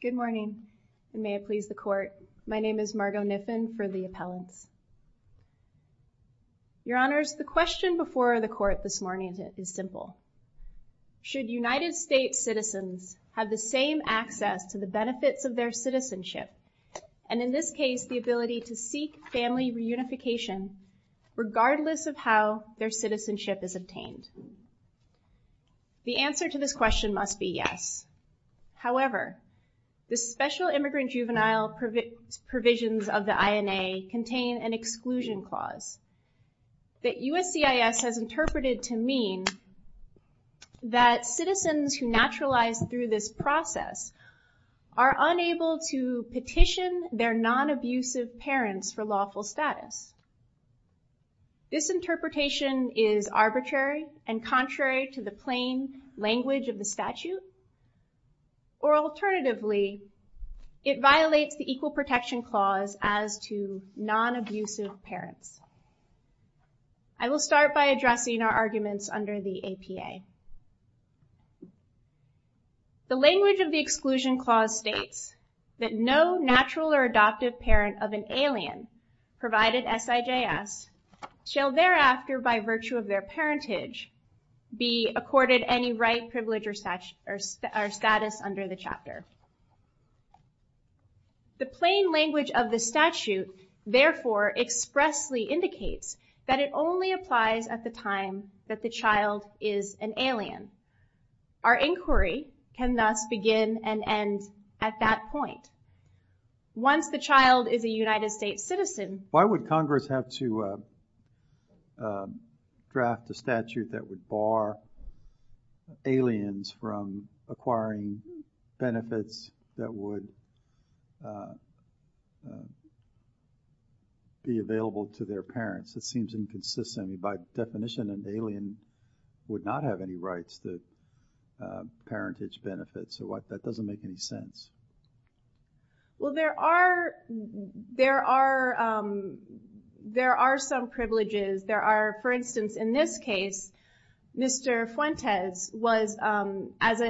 Good morning and may it please the Court. My name is Margo Niffin for the Appellants. Your Honors, the question before the Court this morning is simple. Should United States citizens have the same access to the benefits of their citizenship and in this case the ability to seek family reunification regardless of how their citizenship is obtained? The answer to this question must be yes. However, the Special Immigrant Juvenile provisions of the INA contain an exclusion clause that USCIS has interpreted to mean that citizens who naturalized through this process are unable to petition their non-abusive parents for lawful status. This interpretation is arbitrary and contrary to the plain language of the statute or alternatively it violates the Equal Protection Clause as to non-abusive parents. I will start by addressing our arguments under the APA. The language of the exclusion clause states that no natural or adoptive parent of an alien provided SIJS shall thereafter by virtue of their parentage be accorded any right, privilege, or status under the chapter. The plain language of the statute therefore expressly indicates that it only applies at the time that the child is an alien. Our Once the child is a United States citizen, why would Congress have to draft a statute that would bar aliens from acquiring benefits that would be available to their parents? It seems inconsistent. By definition an alien would not have any rights to parentage benefits. So what that doesn't make any Well there are there are there are some privileges there are for instance in this case Mr. Fuentes was as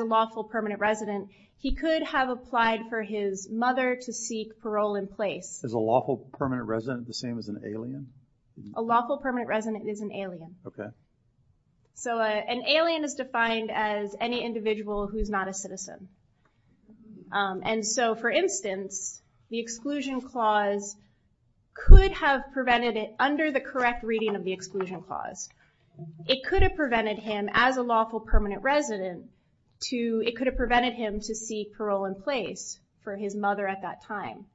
a lawful permanent resident he could have applied for his mother to seek parole in place. As a lawful permanent resident the same as an alien? A lawful permanent resident is an alien. Okay. So an alien is defined as any individual who's not a citizen. And so for instance the exclusion clause could have prevented it under the correct reading of the exclusion clause. It could have prevented him as a lawful permanent resident to it could have prevented him to seek parole in place for his mother at that time.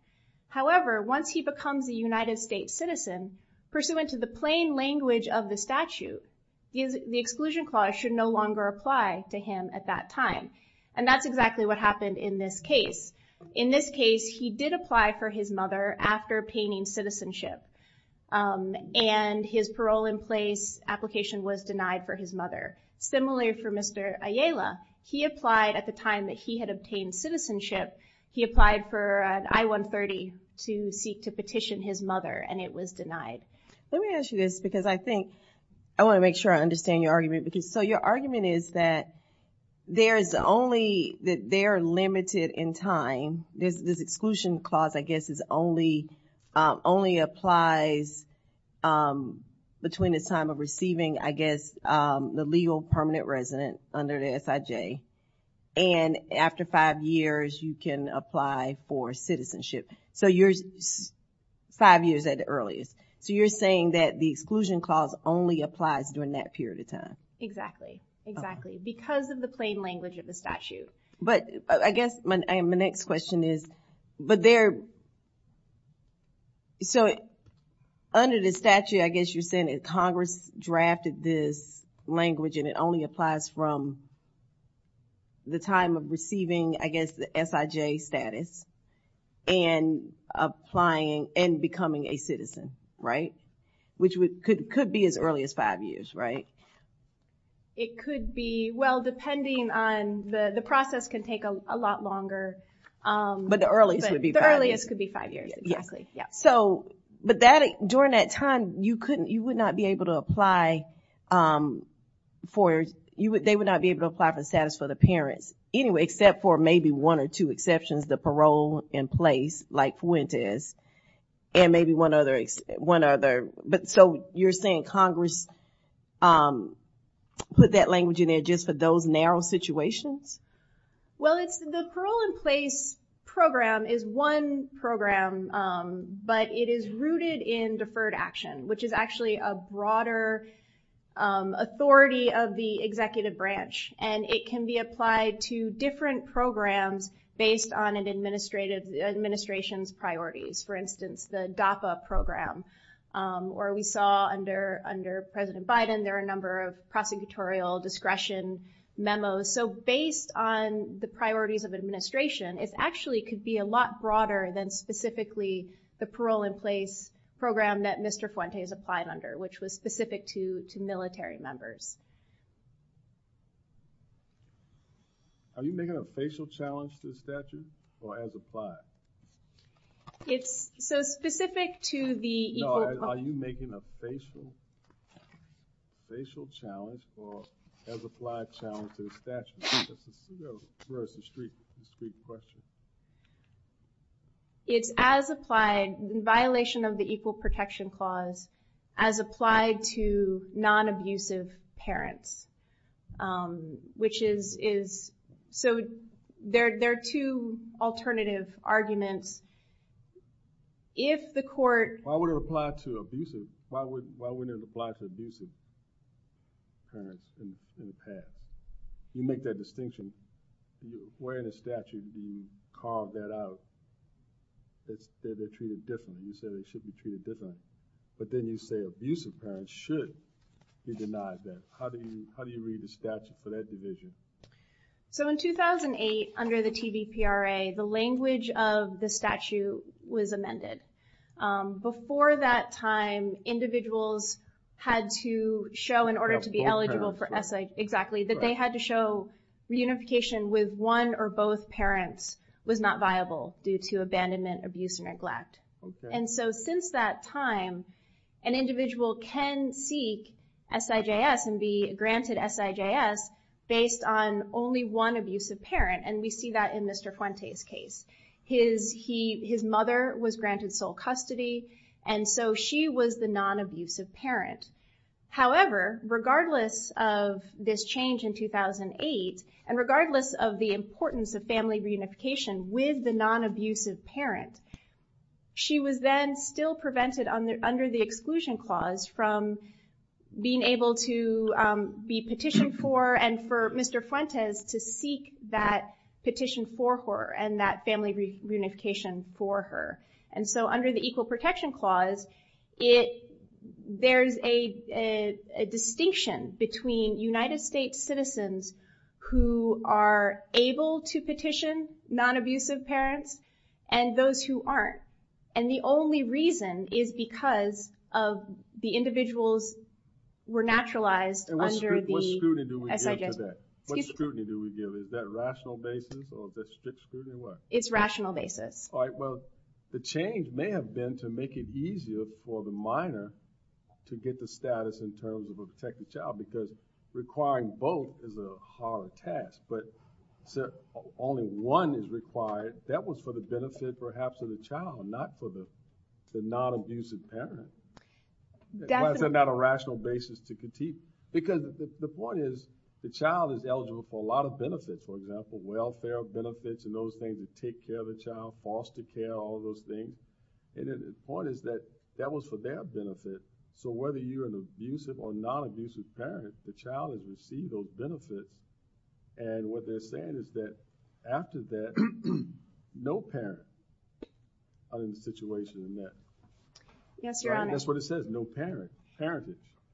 However once he becomes a United States citizen pursuant to the plain language of the statute, the exclusion clause should no longer apply to him at that time. And that's exactly what happened in this case. In this case he did apply for his mother after obtaining citizenship and his parole in place application was denied for his mother. Similarly for Mr. Ayala he applied at the time that he had obtained citizenship he applied for an I-130 to seek to petition his mother and it was denied. Let me ask you this because I think I want to make sure I understand your argument because so your argument is that there is only that they're limited in time. This exclusion clause I guess is only only applies between the time of receiving I guess the legal permanent resident under the SIJ and after five years you can apply for citizenship. So you're five years at earliest. So you're saying that the exclusion clause only applies during that period of time. Exactly exactly because of the plain language of the statute. But I guess my next question is but there so under the statute I guess you're saying it Congress drafted this language and it only applies from the time of receiving I guess the SIJ status and applying and becoming a citizen right? Which would could could be as early as five years right? It could be well depending on the the process can take a lot longer. But the earliest would be the earliest could be five years. Yeah so but that during that time you couldn't you would not be able to apply for you would they would not be able to apply for the status for the parents anyway except for maybe one or two exceptions the parole in place like Fuentes and maybe one other one other but so you're saying Congress put that language in there just for those narrow situations? Well it's the parole in place program is one program but it is rooted in deferred action which is actually a broader authority of the executive branch and it can be applied to different programs based on an administrative administration's priorities. For instance the DAPA program or we saw under under President Biden there are a number of prosecutorial discretion memos. So based on the priorities of administration it actually could be a lot broader than specifically the parole in place program that Mr. Fuentes applied under which was specific to two military members. Are you making a facial challenge to the statute or as applied? It's so specific to the... Are you making a facial challenge or as applied challenge to the statute? It's as applied in violation of the Equal Protection Clause as applied to non-abusive parents which is is so there there are two alternative arguments. If the court... Why would it apply to abusive? Why wouldn't it apply to abusive in the past? You make that distinction. Where in the statute do you call that out? They're treated different. You say they should be treated different. But then you say abusive parents should be denied that. How do you read the statute for that division? So in 2008 under the TBPRA the language of the statute was amended. Before that time individuals had to show in order to be eligible for essay exactly that they had to show reunification with one or both parents was not viable due to abandonment, abuse, and neglect. And so since that time an individual can seek SIJS and be granted SIJS based on only one abusive parent and we see that in Mr. Fuentes case. His mother was granted sole custody and so she was the non-abusive parent. However regardless of this change in 2008 and regardless of the importance of family reunification with the non-abusive parent she was then still prevented under the Exclusion Clause from being able to be petitioned for and for Mr. Fuentes to seek that petition for her and that family reunification for her. And so under the Equal Protection Clause it there's a distinction between United States citizens who are able to petition non-abusive parents and those who aren't. And the only reason is because of the individuals were naturalized under the SIJS. And what scrutiny do we give to that? What scrutiny do we give? Is that rational basis or is that strict scrutiny? It's rational basis. Alright well the change may have been to make it easier for the minor to get the status in terms of a protected child because requiring both is a hard task. But only one is required. That was for the benefit perhaps of the child not for the non-abusive parent. Why is that not a rational basis to critique? Because the point is the child is eligible for a lot of benefits. For example, welfare benefits and those things that take care of the child, foster care, all those things. And the point is that that was for their benefit. So whether you're an abusive or non-abusive parent the child has received those benefits. And what they're saying is that after that no parents are in a situation in that. Yes, Your Honor. That's what it says, no parent.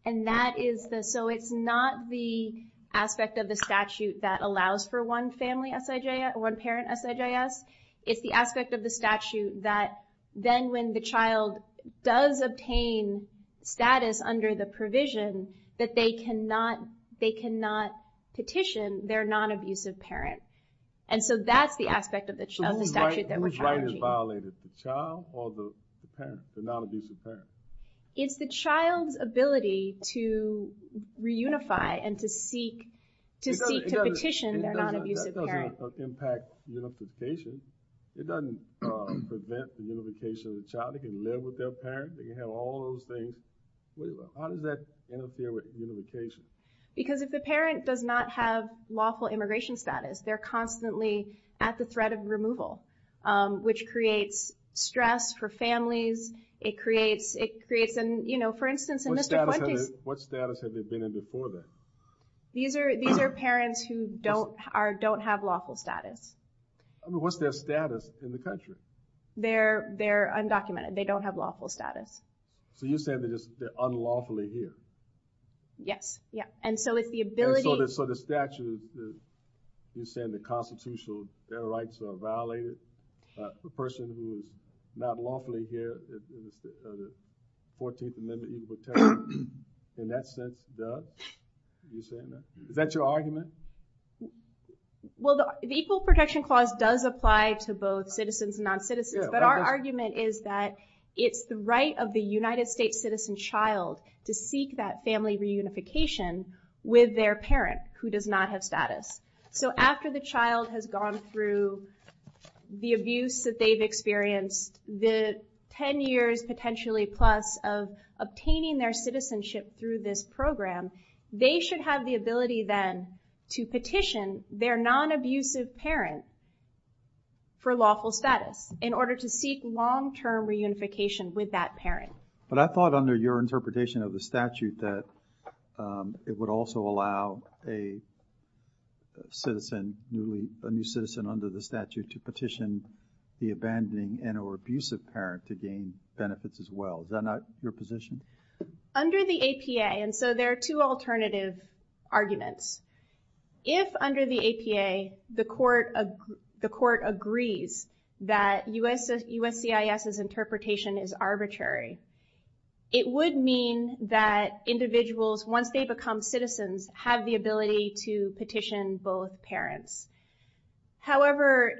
And that is the, so it's not the aspect of the statute that allows for one family SIJS, one parent SIJS. It's the aspect of the statute that then when the child does obtain status under the provision that they cannot, they cannot petition their non-abusive parent. And so that's the aspect of the statute that we're challenging. Is it the child or the parent, the non-abusive parent? It's the child's ability to reunify and to seek to petition their non-abusive parent. It doesn't impact unification. It doesn't prevent the unification of the child. They can live with their parent. They can have all those things. How does that interfere with unification? Because if the parent does not have lawful immigration status, they're constantly at the threat of removal. Which creates stress for families. It creates, it creates, you know, for instance, in Mr. Quente's... What status have they been in before that? These are parents who don't have lawful status. What's their status in the country? They're undocumented. They don't have lawful status. So you're saying they're unlawfully here? Yes. And so if the ability... So the statute, you're saying the constitutional rights are violated. A person who is not lawfully here, the 14th Amendment, in that sense, does? Is that your argument? Well, the Equal Protection Clause does apply to both citizens and non-citizens. But our argument is that it's the right of the United States citizen child to seek that family reunification with their parent who does not have status. So after the child has gone through the abuse that they've experienced, the 10 years potentially plus of obtaining their citizenship through this program, they should have the ability then to petition their non-abusive parent for lawful status in order to seek long-term reunification with that parent. But I thought under your interpretation of the statute that it would also allow a citizen, a new citizen under the statute, to petition the abandoning and or abusive parent to gain benefits as well. Is that not your position? Under the APA, and so there are two alternative arguments. If under the APA the court agrees that USCIS's interpretation is arbitrary, it would mean that individuals, once they become citizens, have the ability to petition both parents. However,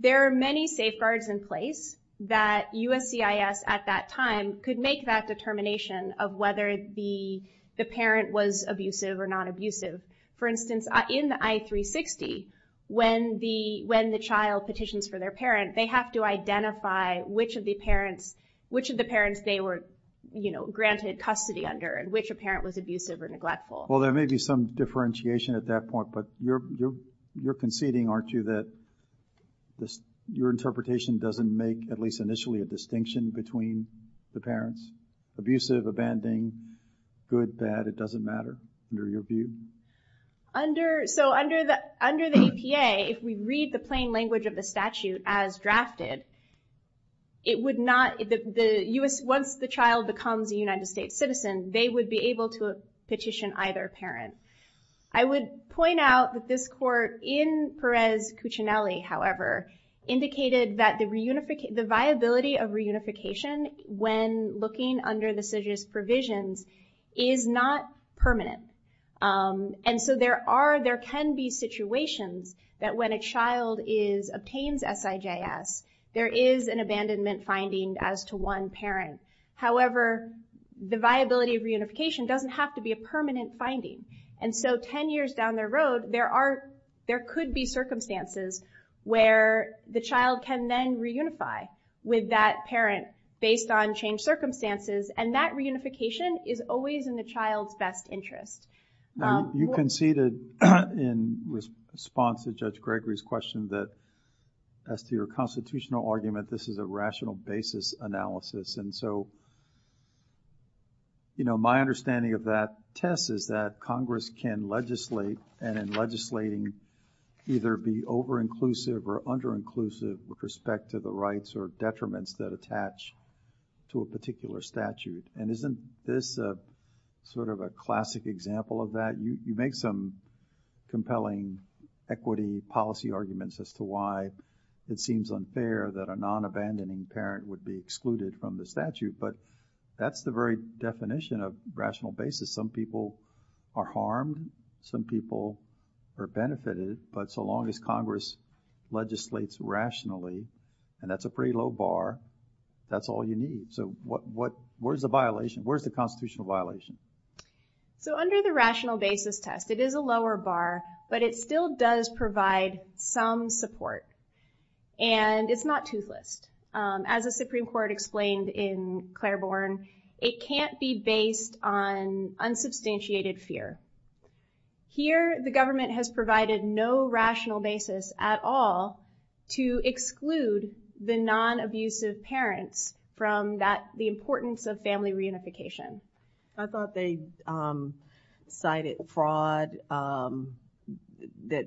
there are many safeguards in place that USCIS at that time could make that determination of whether the parent was abusive or non-abusive. For instance, in the I-360, when the child petitions for their parent, they have to identify which of the parents they were granted custody under and which a parent was abusive or neglectful. Well, there may be some differentiation at that point, but you're conceding, aren't you, that your interpretation doesn't make, at least initially, a distinction between the parents? Abusive, abandoning, good, bad, it doesn't matter, under your view? So under the APA, if we read the plain language of the statute as drafted, it would not, once the child becomes a United States citizen, they would be able to petition either parent. I would point out that this court in Perez-Cuccinelli, however, indicated that the viability of reunification when looking under the CIJS provisions is not permanent. And so there can be situations that when a child obtains SIJS, there is an abandonment finding as to one parent. However, the viability of reunification doesn't have to be a permanent finding. And so 10 years down the road, there could be circumstances where the child can then reunify with that parent based on changed circumstances, and that reunification is always in the child's best interest. You conceded in response to Judge Gregory's question that as to your constitutional argument, this is a rational basis analysis. And so my understanding of that test is that Congress can legislate, and in legislating, either be over-inclusive or under-inclusive with respect to the rights or detriments that attach to a particular statute. And isn't this sort of a classic example of that? You make some compelling equity policy arguments as to why it seems unfair that a non-abandoning parent would be excluded from the statute, but that's the very definition of rational basis. Some people are harmed. Some people are benefited. But so long as Congress legislates rationally, and that's a pretty low bar, that's all you need. So where's the violation? Where's the constitutional violation? So under the rational basis test, it is a lower bar, but it still does provide some support. And it's not toothless. As the Supreme Court explained in Claiborne, it can't be based on unsubstantiated fear. Here the government has provided no rational basis at all to exclude the non-abusive parents from the importance of family reunification. I thought they cited fraud, the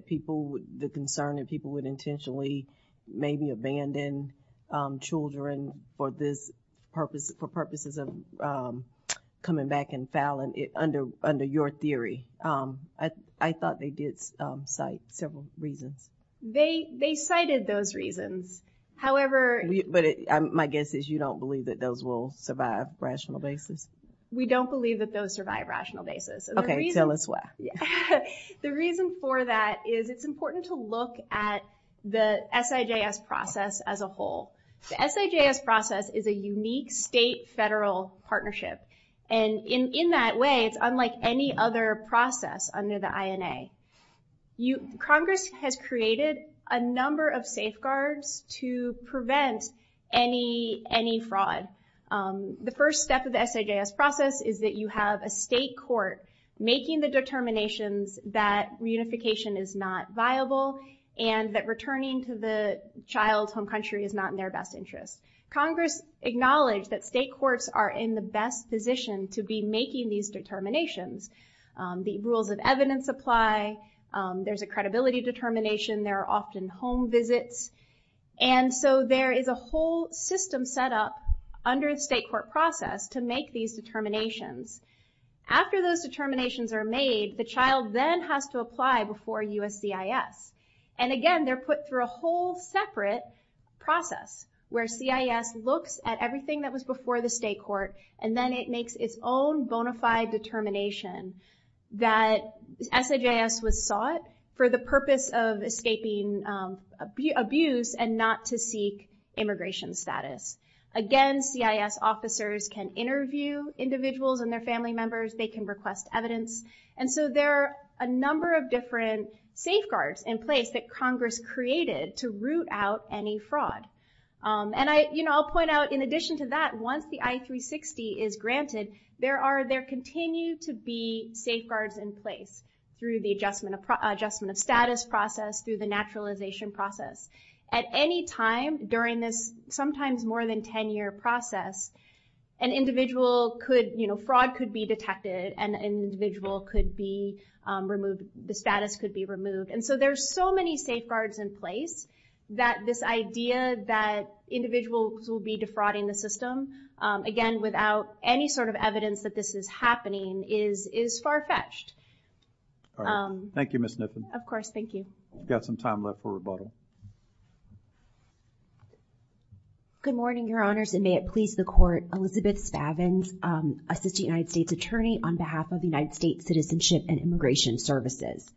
concern that people would intentionally maybe abandon children for purposes of coming back and fouling under your theory. I thought they did cite several reasons. They cited those reasons. But my guess is you don't believe that those will survive rational basis? We don't believe that those survive rational basis. Okay, tell us why. The reason for that is it's important to look at the SIJS process as a whole. The SIJS process is a unique state-federal partnership. And in that way, it's unlike any other process under the INA. Congress has created a number of safeguards to prevent any fraud. The first step of the SIJS process is that you have a state court making the determinations that reunification is not viable and that returning to the child's home country is not in their best interest. Congress acknowledged that state courts are in the best position to be making these determinations. The rules of evidence apply. There's a credibility determination. There are often home visits. And so there is a whole system set up under the state court process to make these determinations. After those determinations are made, the child then has to apply before USCIS. And again, they're put through a whole separate process where CIS looks at everything that was before the state court, and then it makes its own bona fide determination that SIJS was sought for the purpose of escaping abuse and not to seek immigration status. Again, CIS officers can interview individuals and their family members. They can request evidence. And so there are a number of different safeguards in place that Congress created to root out any fraud. And I'll point out, in addition to that, once the I-360 is granted, there continue to be safeguards in place through the adjustment of status process, through the naturalization process. At any time during this sometimes more than 10-year process, an individual could, you know, fraud could be detected. An individual could be removed. The status could be removed. And so there's so many safeguards in place that this idea that individuals will be defrauding the system, again, without any sort of evidence that this is happening, is far-fetched. Thank you, Ms. Nippon. Of course, thank you. We've got some time left for rebuttal. Good morning, Your Honors, and may it please the Court, Elizabeth Spavins, Assistant United States Attorney on behalf of the United States Citizenship and Immigration Services.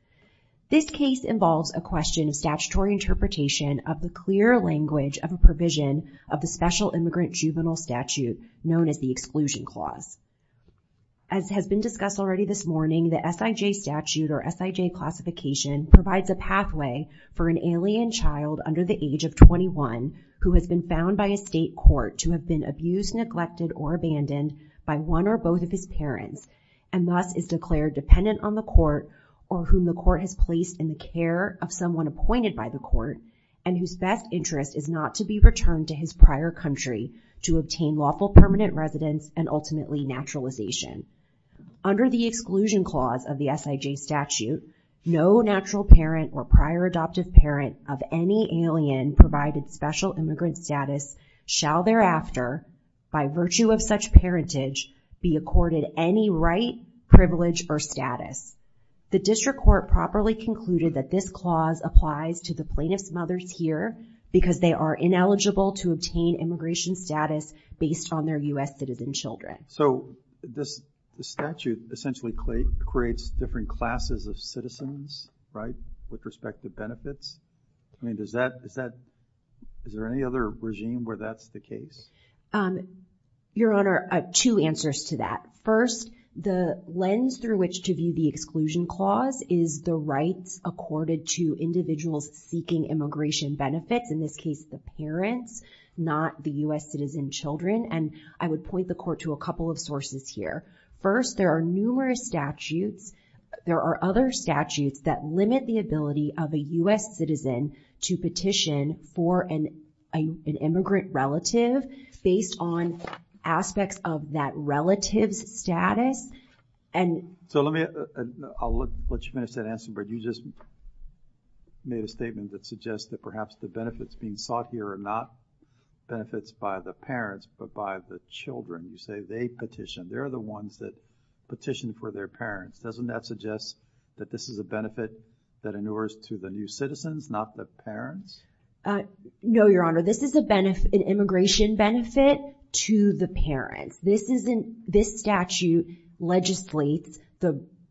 This case involves a question of statutory interpretation of the clear language of a provision of the Special Immigrant Juvenile Statute, known as the Exclusion Clause. As has been discussed already this morning, the SIJ statute or SIJ classification provides a pathway for an alien child under the age of 21 who has been found by a state court to have been abused, neglected, or abandoned by one or both of his parents, and thus is declared dependent on the court or whom the court has placed in the care of someone appointed by the court and whose best interest is not to be returned to his prior country to obtain lawful permanent residence and ultimately naturalization. Under the Exclusion Clause of the SIJ statute, no natural parent or prior adoptive parent of any alien provided special immigrant status shall thereafter, by virtue of such parentage, be accorded any right, privilege, or status. The district court properly concluded that this clause applies to the plaintiff's mothers here because they are ineligible to obtain immigration status based on their U.S. citizen children. So, this statute essentially creates different classes of citizens, right, with respect to benefits? I mean, is there any other regime where that's the case? Your Honor, I have two answers to that. First, the lens through which to view the Exclusion Clause is the rights accorded to individuals seeking immigration benefits, in this case, the parents, not the U.S. citizen children. And I would point the court to a couple of sources here. First, there are numerous statutes. There are other statutes that limit the ability of a U.S. citizen to petition for an immigrant relative based on aspects of that relative's status. So, let me, I'll let you finish that answer, but you just made a statement that suggests that perhaps the benefits being sought here are not benefits by the parents, but by the children. You say they petitioned. They're the ones that petitioned for their parents. Doesn't that suggest that this is a benefit that endures to the new citizens, not the parents? No, Your Honor. This is an immigration benefit to the parents. This statute legislates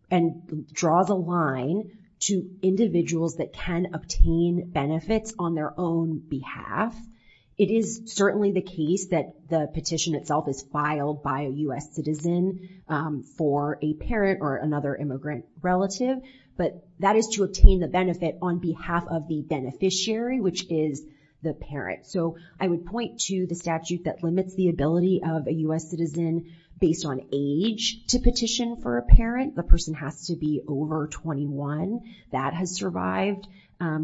and draws a line to individuals that can obtain benefits on their own behalf. It is certainly the case that the petition itself is filed by a U.S. citizen for a parent or another immigrant relative, but that is to obtain the benefit on behalf of the beneficiary, which is the parent. So, I would point to the statute that limits the ability of a U.S. citizen based on age to petition for a parent. The person has to be over 21. That has survived a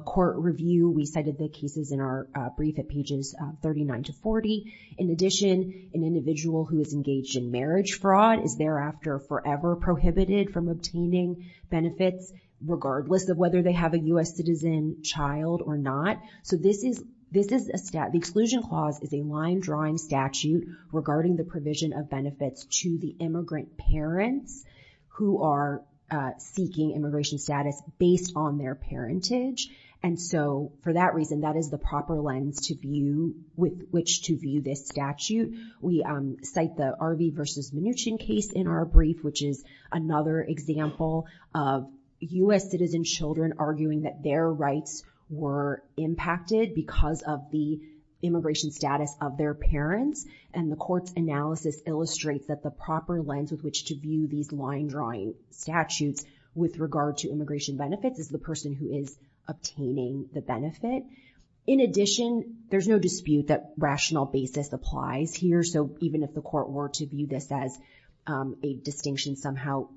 court review. We cited the cases in our brief at pages 39 to 40. In addition, an individual who is engaged in marriage fraud is thereafter forever prohibited from obtaining benefits regardless of whether they have a U.S. citizen child or not. So, the exclusion clause is a line-drawing statute regarding the provision of benefits to the immigrant parents who are seeking immigration status based on their parentage. And so, for that reason, that is the proper lens with which to view this statute. We cite the Arvey v. Mnuchin case in our brief, which is another example of U.S. citizen children arguing that their rights were impacted because of the immigration status of their parents. And the court's analysis illustrates that the proper lens with which to view these line-drawing statutes with regard to immigration benefits is the person who is obtaining the benefit. In addition, there's no dispute that rational basis applies here. So, even if the court were to view this as a distinction somehow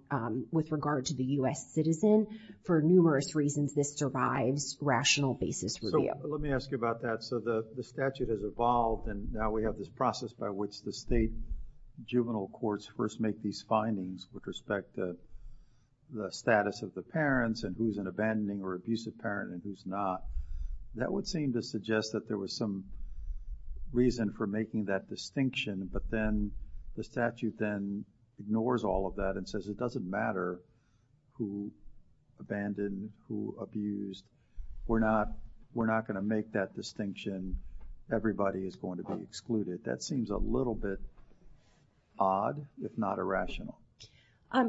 with regard to the U.S. citizen, for numerous reasons, this survives rational basis review. Let me ask you about that. So, the statute has evolved, and now we have this process by which the state juvenile courts first make these findings with respect to the status of the parents and who's an abandoning or abusive parent and who's not. That would seem to suggest that there was some reason for making that distinction, but then the statute then ignores all of that and says it doesn't matter who abandoned, who abused. We're not going to make that distinction. Everybody is going to be excluded. That seems a little bit odd, if not irrational.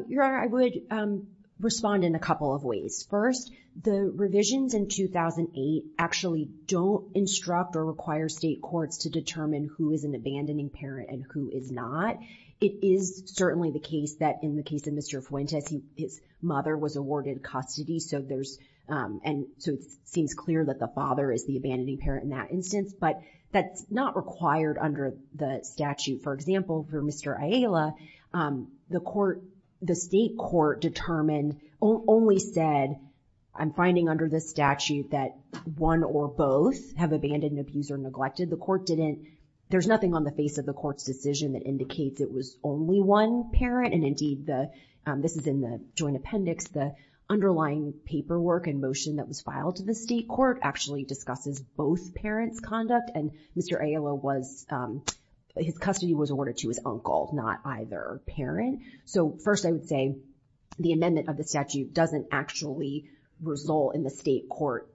Your Honor, I would respond in a couple of ways. First, the revisions in 2008 actually don't instruct or require state courts to determine who is an abandoning parent and who is not. It is certainly the case that in the case of Mr. Fuentes, his mother was awarded custody, so it seems clear that the father is the abandoning parent in that instance, but that's not required under the statute. For example, for Mr. Ayala, the state court determined, only said, I'm finding under this statute that one or both have abandoned, abused, or neglected. There's nothing on the face of the court's decision that indicates it was only one parent, and indeed, this is in the joint appendix, the underlying paperwork and motion that was filed to the state court actually discusses both parents' conduct, and Mr. Ayala was, his custody was awarded to his uncle, not either parent. So first, I would say the amendment of the statute doesn't actually result in the state court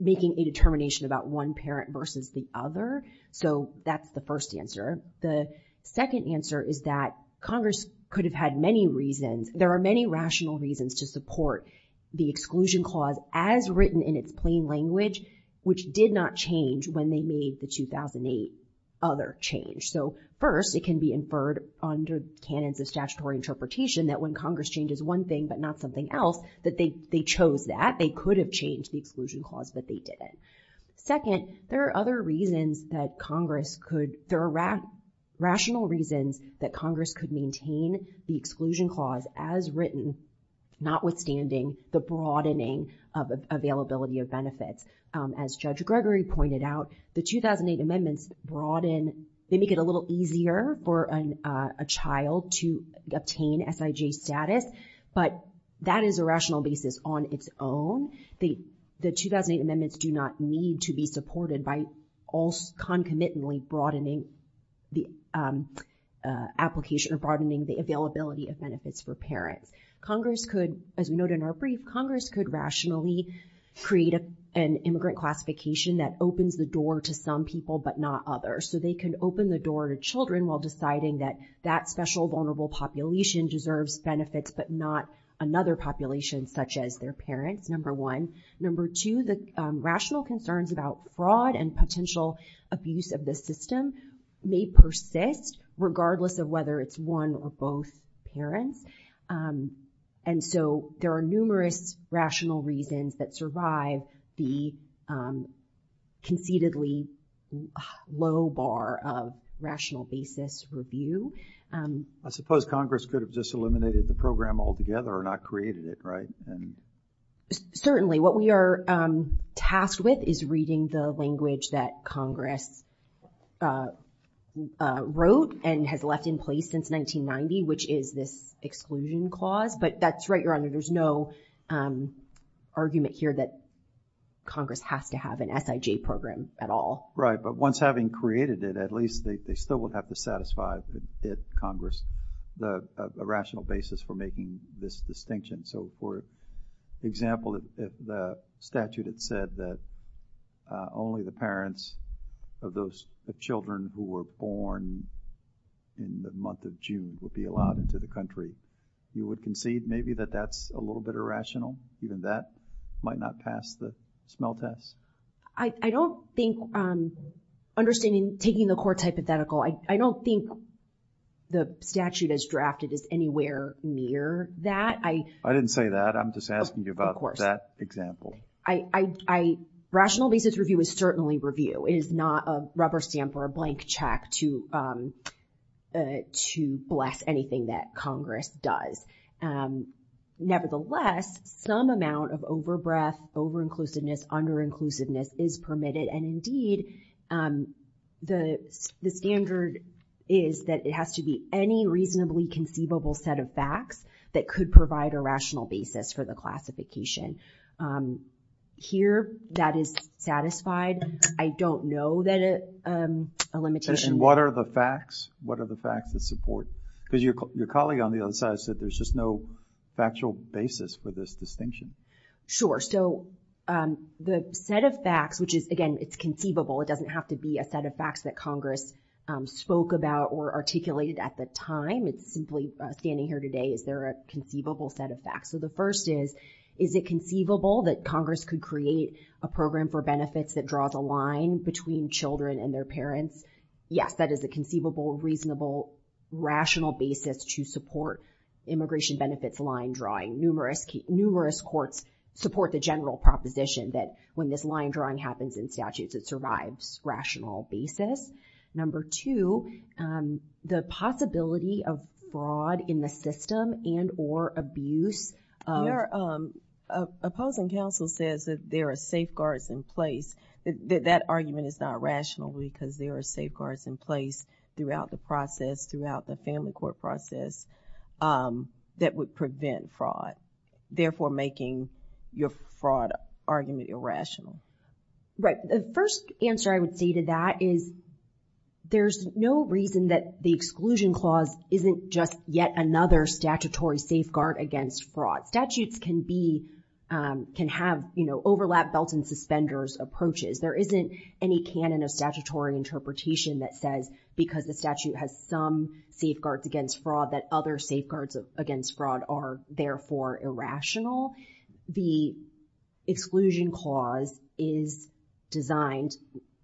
making a determination about one parent versus the other, so that's the first answer. The second answer is that Congress could have had many reasons, there are many rational reasons to support the exclusion clause as written in its plain language, which did not change when they made the 2008 other change. So first, it can be inferred under canons of statutory interpretation that when Congress changes one thing but not something else, that they chose that, they could have changed the exclusion clause, but they didn't. Second, there are other reasons that Congress could, there are rational reasons that Congress could maintain the exclusion clause as written, notwithstanding the broadening of availability of benefits. As Judge Gregory pointed out, the 2008 amendments broaden, they make it a little easier for a child to obtain SIJ status, but that is a rational basis on its own. The 2008 amendments do not need to be supported by all concomitantly broadening the application, or broadening the availability of benefits for parents. Congress could, as noted in our brief, Congress could rationally create an immigrant classification that opens the door to some people but not others, so they can open the door to children while deciding that that special vulnerable population deserves benefits but not another population such as their parents, number one. Number two, the rational concerns about broad and potential abuse of the system may persist regardless of whether it's one or both parents, and so there are numerous rational reasons that survive the conceitedly low bar of rational basis review. I suppose Congress could have just eliminated the program altogether and not created it, right? Certainly. What we are tasked with is reading the language that Congress wrote and has left in place since 1990, which is this exclusion clause, but that's right, Your Honor, there's no argument here that Congress has to have an SIJ program at all. Right, but once having created it, at least they still would have to satisfy if Congress, a rational basis for making this distinction. So, for example, if the statute had said that only the parents of children who were born in the month of June would be allowed into the country, you would concede maybe that that's a little bit irrational, even that might not pass the smell test? I don't think, understanding, taking the court's hypothetical, I don't think the statute as drafted is anywhere near that. I didn't say that. I'm just asking you about that example. Rational basis review is certainly review. It is not a rubber stamp or a blank check to bless anything that Congress does. Nevertheless, some amount of over-breath, over-inclusiveness, under-inclusiveness is permitted, and indeed the standard is that it has to be any reasonably conceivable set of facts that could provide a rational basis for the classification. Here, that is satisfied. I don't know that it's a limitation. What are the facts? What are the facts that support? Because your colleague on the other side said there's just no factual basis for this distinction. Sure, so the set of facts, which is, again, it's conceivable. It doesn't have to be a set of facts that Congress spoke about or articulated at the time. It's simply, standing here today, is there a conceivable set of facts? So the first is, is it conceivable that Congress could create a program for benefits that draws a line between children and their parents? Yes, that is a conceivable, reasonable, rational basis to support immigration benefits line drawing. Numerous courts support the general proposition that when this line drawing happens in statutes, it survives rational basis. Number two, the possibility of fraud in the system and or abuse. Your opposing counsel says that there are safeguards in place. That argument is not rational because there are safeguards in place throughout the process, throughout the family court process, that would prevent fraud, therefore making your fraud argument irrational. Right, the first answer I would say to that is, there's no reason that the exclusion clause isn't just yet another statutory safeguard against fraud. Statutes can be, can have, you know, overlap, belt, and suspenders approaches. There isn't any canon of statutory interpretation that says, because the statute has some safeguards against fraud, that other safeguards against fraud are therefore irrational. The exclusion clause is designed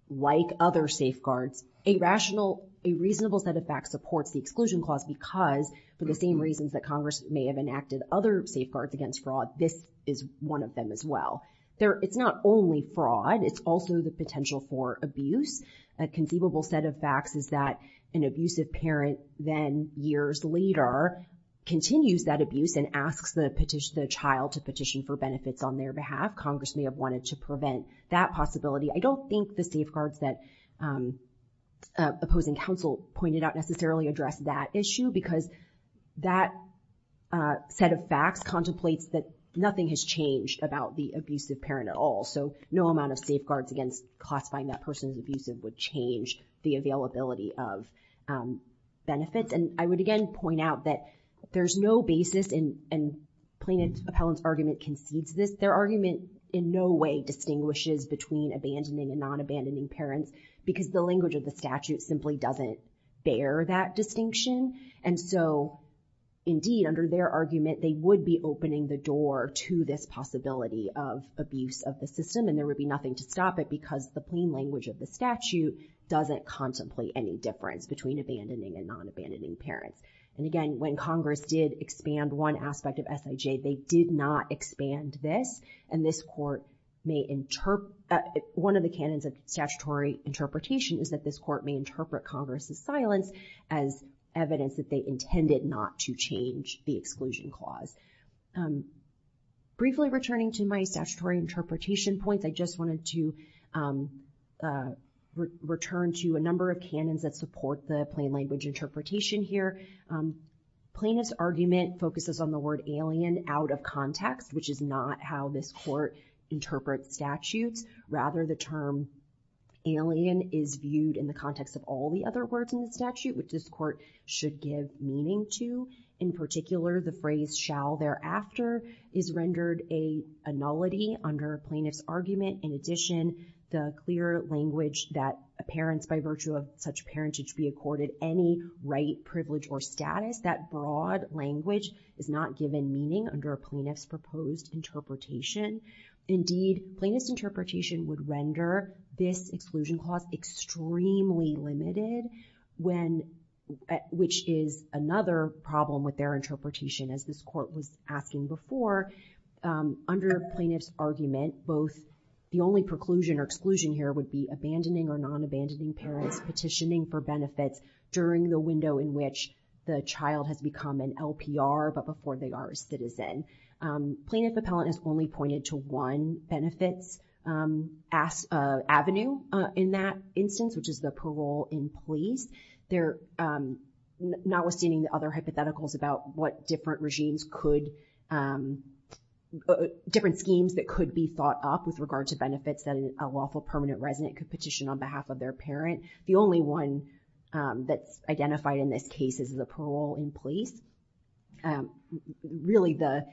like other safeguards. A rational, a reasonable set of facts supports the exclusion clause because for the same reasons that Congress may have enacted other safeguards against fraud, this is one of them as well. There, it's not only fraud, it's also the potential for abuse. A conceivable set of facts is that an abusive parent then years later continues that abuse and asks the petition, the child to petition for benefits on their behalf. Congress may have wanted to prevent that possibility. I don't think the safeguards that opposing counsel pointed out necessarily address that issue because that set of facts contemplates that nothing has changed about the abusive parent at all. So no amount of safeguards against classifying that person as abusive would change the availability of benefits. And I would again point out that there's no basis in Plaintiff's Appellant's argument concedes this. Their argument in no way distinguishes between abandoning and non-abandoning parents because the language of the statute simply doesn't bear that distinction. And so indeed, under their argument, they would be opening the door to this possibility of abuse of the system and there would be nothing to stop it because the plain language of the statute doesn't contemplate any difference between abandoning and non-abandoning parents. And again, when Congress did expand one aspect of SIJ, they did not expand this and this court may interpret, one of the canons of statutory interpretation is that this court may interpret Congress's silence as evidence that they intended not to change the exclusion clause. Briefly returning to my statutory interpretation points, I just wanted to return to a number of canons that support the plain language interpretation here. Plaintiff's argument focuses on the word alien out of context, which is not how this court interprets statutes. Rather, the term alien is viewed in the context of all the other words in the statute, which this court should give meaning to. In particular, the phrase shall thereafter is rendered a nullity under Plaintiff's argument. In addition, the clear language that parents by virtue of such parentage be accorded any right, privilege, or status, that broad language is not given meaning under Plaintiff's proposed interpretation. Indeed, Plaintiff's interpretation would render this exclusion clause extremely limited, which is another problem with their interpretation, as this court was asking before. Under Plaintiff's argument, the only preclusion or exclusion here would be abandoning or non-abandoning parents petitioning for benefits during the window in which the child has become an LPR but before they are a citizen. Plaintiff appellant has only pointed to one benefits avenue in that instance, which is the parole employees. They're notwithstanding the other hypotheticals about what different regimes could, different schemes that could be thought up with regard to permanent resident could petition on behalf of their parent. The only one that's identified in this case is the parole in place. Really, the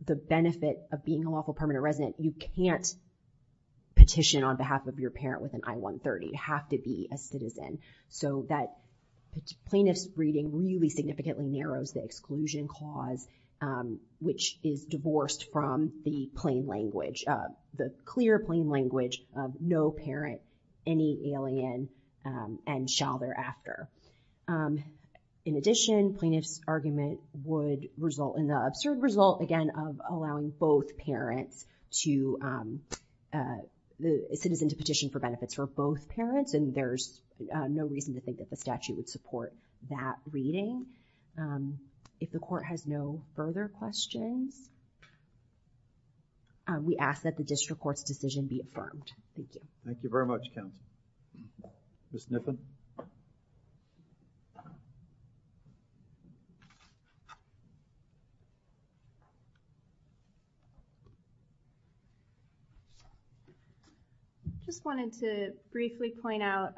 benefit of being a lawful permanent resident, you can't petition on behalf of your parent with an I-130. You have to be a citizen. So that Plaintiff's reading really significantly narrows the exclusion clause, which is divorced from the plain language. The clear plain language of no parent, any alien, and shall thereafter. In addition, Plaintiff's argument would result in the absurd result, again, of allowing both parents to, a citizen to petition for benefits for both parents, and there's no reason to think that the statute would support that reading. If the court has no further questions, we ask that the district court's decision be affirmed. Thank you very much, counsel. Ms. Nippon. I just wanted to briefly point out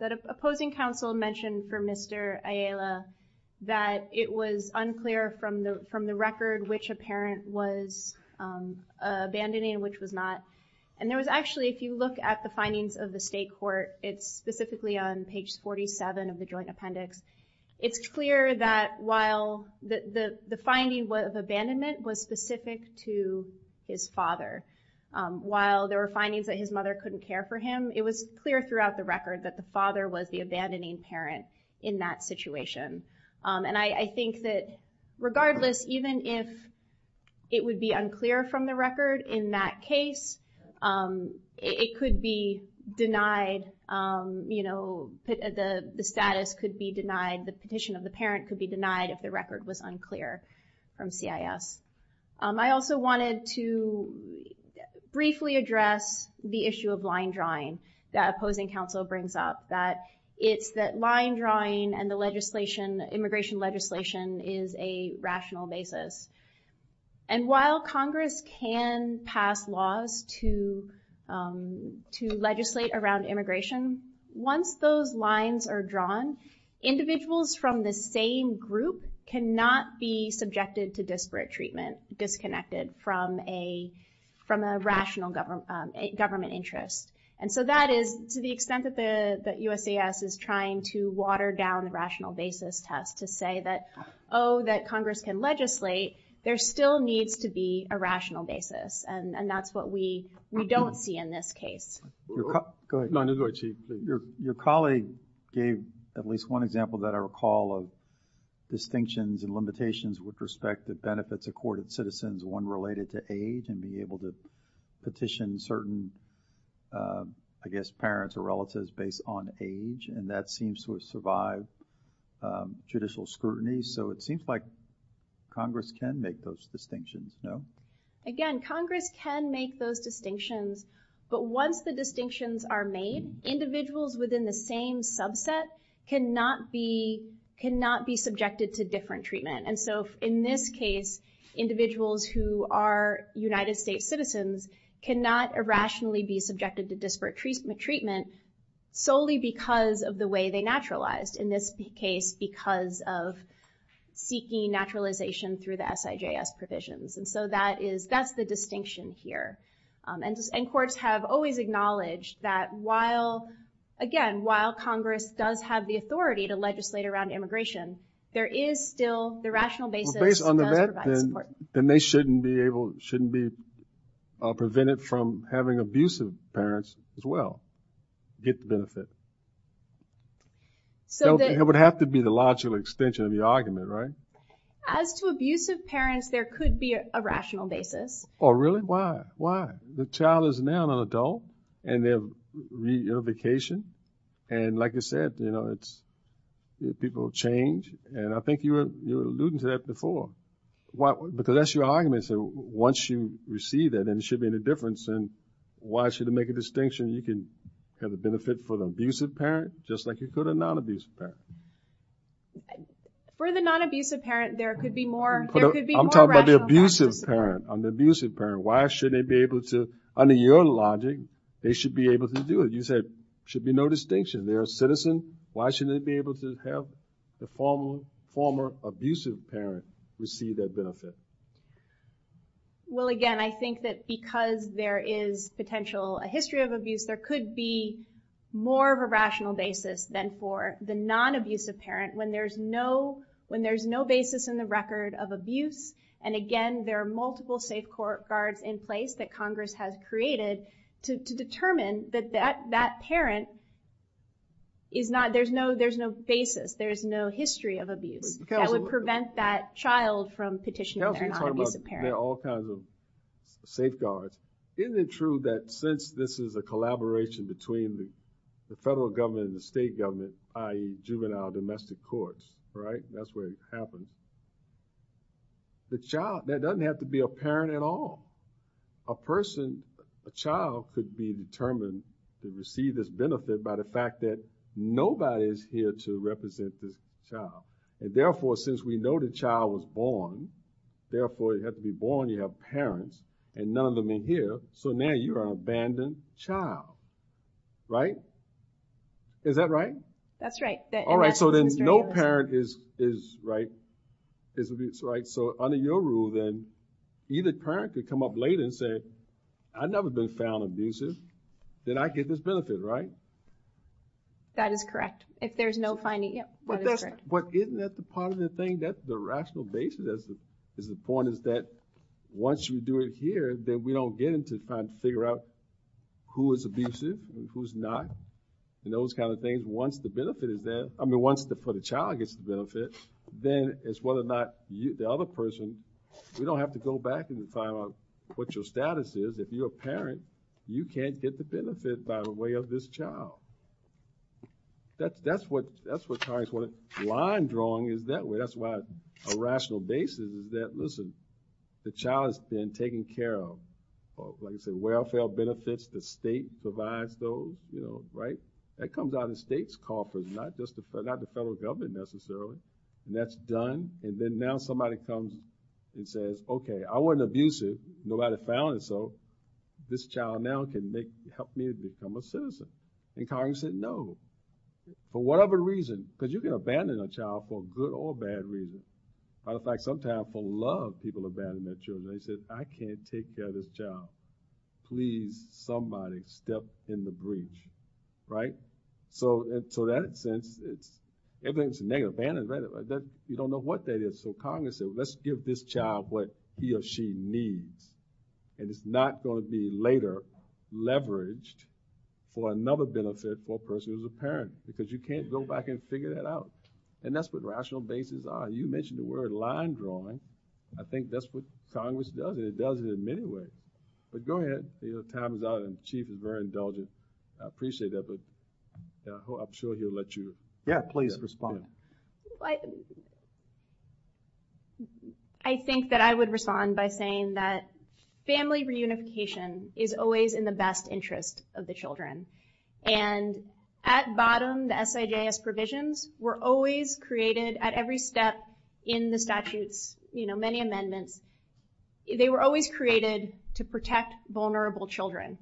that opposing counsel mentioned for Mr. Ayala that it was unclear from the record which a parent was abandoning and which was not. And there was actually, if you look at the findings of the state court, it's specifically on page 47 of the joint appendix, it's clear that while the finding of abandonment was specific to his father, while there were findings that his mother couldn't care for him, it was clear throughout the record that the father was the abandoning parent in that situation. And I think that regardless, even if it would be unclear from the record in that case, it could be denied, you know, the status could be denied, the petition of the parent could be denied if the record was unclear from CIS. I also wanted to briefly address the issue of line drawing that opposing counsel brings up, that it's that line drawing and the legislation, immigration legislation is a rational basis. And while Congress can pass laws to legislate around immigration, once those lines are drawn, individuals from the same group cannot be subjected to disparate treatment, disconnected from a rational government interest. And so that is to the extent that the USAS is trying to water down the rational basis test to say that, oh, that Congress can legislate, there still needs to be a rational basis. And that's what we don't see in this case. Your colleague gave at least one example that I recall of distinctions and limitations with respect to benefits accorded citizens, one related to age and being able to petition certain, I guess, parents or relatives based on age. And that seems to have survived judicial scrutiny. So it seems like Congress can make those distinctions, no? Again, Congress can make those distinctions, but once the distinctions are made, individuals within the same subset cannot be, cannot be subjected to different treatment. And so in this case, individuals who are United States citizens cannot irrationally be subjected to disparate treatment, solely because of the way they naturalized in this case, because of seeking naturalization through the SIJS provisions. And so that is, that's the distinction here. And courts have always acknowledged that while, again, while Congress does have the authority to legislate around immigration, there is still the rational basis. then they shouldn't be able, shouldn't be prevented from having abusive parents as well get the benefit. So it would have to be the logical extension of the argument, right? As to abusive parents, there could be a rational basis. Oh, really? Why? Why? The child is now an adult and they have reunification. And like I said, you know, it's people change. And I think you were alluding to that before. Because that's your argument. So once you receive that, then it shouldn't be any difference. And why should it make a distinction? You can have a benefit for the abusive parent, just like you could a non-abusive parent. For the non-abusive parent, there could be more. I'm talking about the abusive parent, on the abusive parent. Why shouldn't they be able to, under your logic, they should be able to do it. You said there should be no distinction. They're a citizen. Why shouldn't they be able to have the former abusive parent receive that benefit? Well, again, I think that because there is potential, a history of abuse, there could be more of a rational basis than for the non-abusive parent, when there's no basis in the record of abuse. And again, there are multiple safe guards in place that Congress has created to determine that that parent is not, there's no basis, there's no history of abuse. That would prevent that child from petitioning that they're a non-abusive parent. Now if you talk about all kinds of safe guards, isn't it true that since this is a collaboration between the federal government and the state government, i.e. juvenile domestic courts, right? That's where it happened. The child, that doesn't have to be a parent at all. A person, a child could be determined to receive this benefit by the fact that nobody is here to represent the child. And therefore, since we know the child was born, therefore it had to be born, you have parents, and none of them are here. So now you are an abandoned child. Right? Is that right? That's right. All right, so then no parent is, right, is abused, right? So under your rule then, either parent could come up late and say, I've never been found abusive, then I get this benefit, right? That is correct. If there's no finding yet, that is correct. But isn't that the part of the thing, that's the rational basis, is the point is that once you do it here, then we don't get into trying to figure out who is abusive and who's not, and those kind of things. Once the benefit is there, I mean once the child gets the benefit, then it's whether or not the other person, we don't have to go back and find out what your status is. If you're a parent, you can't get the benefit by the way of this child. That's what kind of line drawing is that way. That's why a rational basis is that, listen, the child has been taken care of. Like I said, welfare benefits, the state provides those, you know, right? That comes out of the state's coffers, not the federal government necessarily, and that's done, and then now somebody comes and says, okay, I wasn't abusive. Nobody found it, so this child now can help me become a citizen. And Congress said no. For whatever reason, because you can abandon a child for good or bad reasons. As a matter of fact, sometimes for love, people abandon their children. They say, I can't take care of this child. Please, somebody step in the breach, right? So in that sense, everything's negative. Abandoned, right? You don't know what that is, so Congress said, let's give this child what he or she needs, and it's not going to be later leveraged for another benefit for a person who's a parent because you can't go back and figure that out, and that's what rational basis are. You mentioned the word line drawing. I think that's what Congress does, and it does it in many ways, but go ahead. Time is out, and Chief is very indulgent. I appreciate that, but I'm sure he'll let you. Yeah, please respond. I think that I would respond by saying that family reunification is always in the best interest of the children, and at bottom, the SIJS provisions were always created at every step in the statutes, many amendments, they were always created to protect vulnerable children,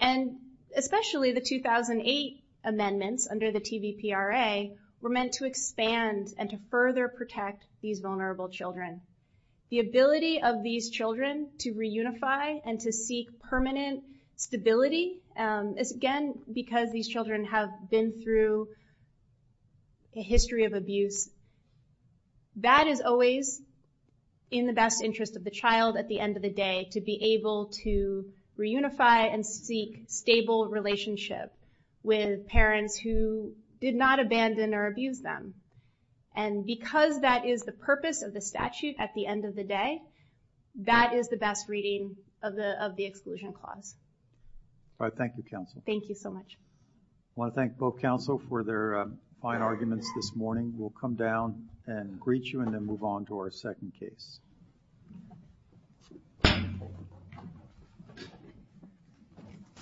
and especially the 2008 amendments under the TVPRA were meant to expand and to further protect these vulnerable children. The ability of these children to reunify and to seek permanent stability is again because these children have been through a history of abuse. That is always in the best interest of the child at the end of the day to be able to reunify and seek stable relationship with parents who did not abandon or abuse them, and because that is the purpose of the statute at the end of the day, that is the best reading of the exclusion clause. All right, thank you, counsel. Thank you so much. I want to thank both counsel for their fine arguments this morning. We'll come down and greet you, and then move on to our second case. Thank you.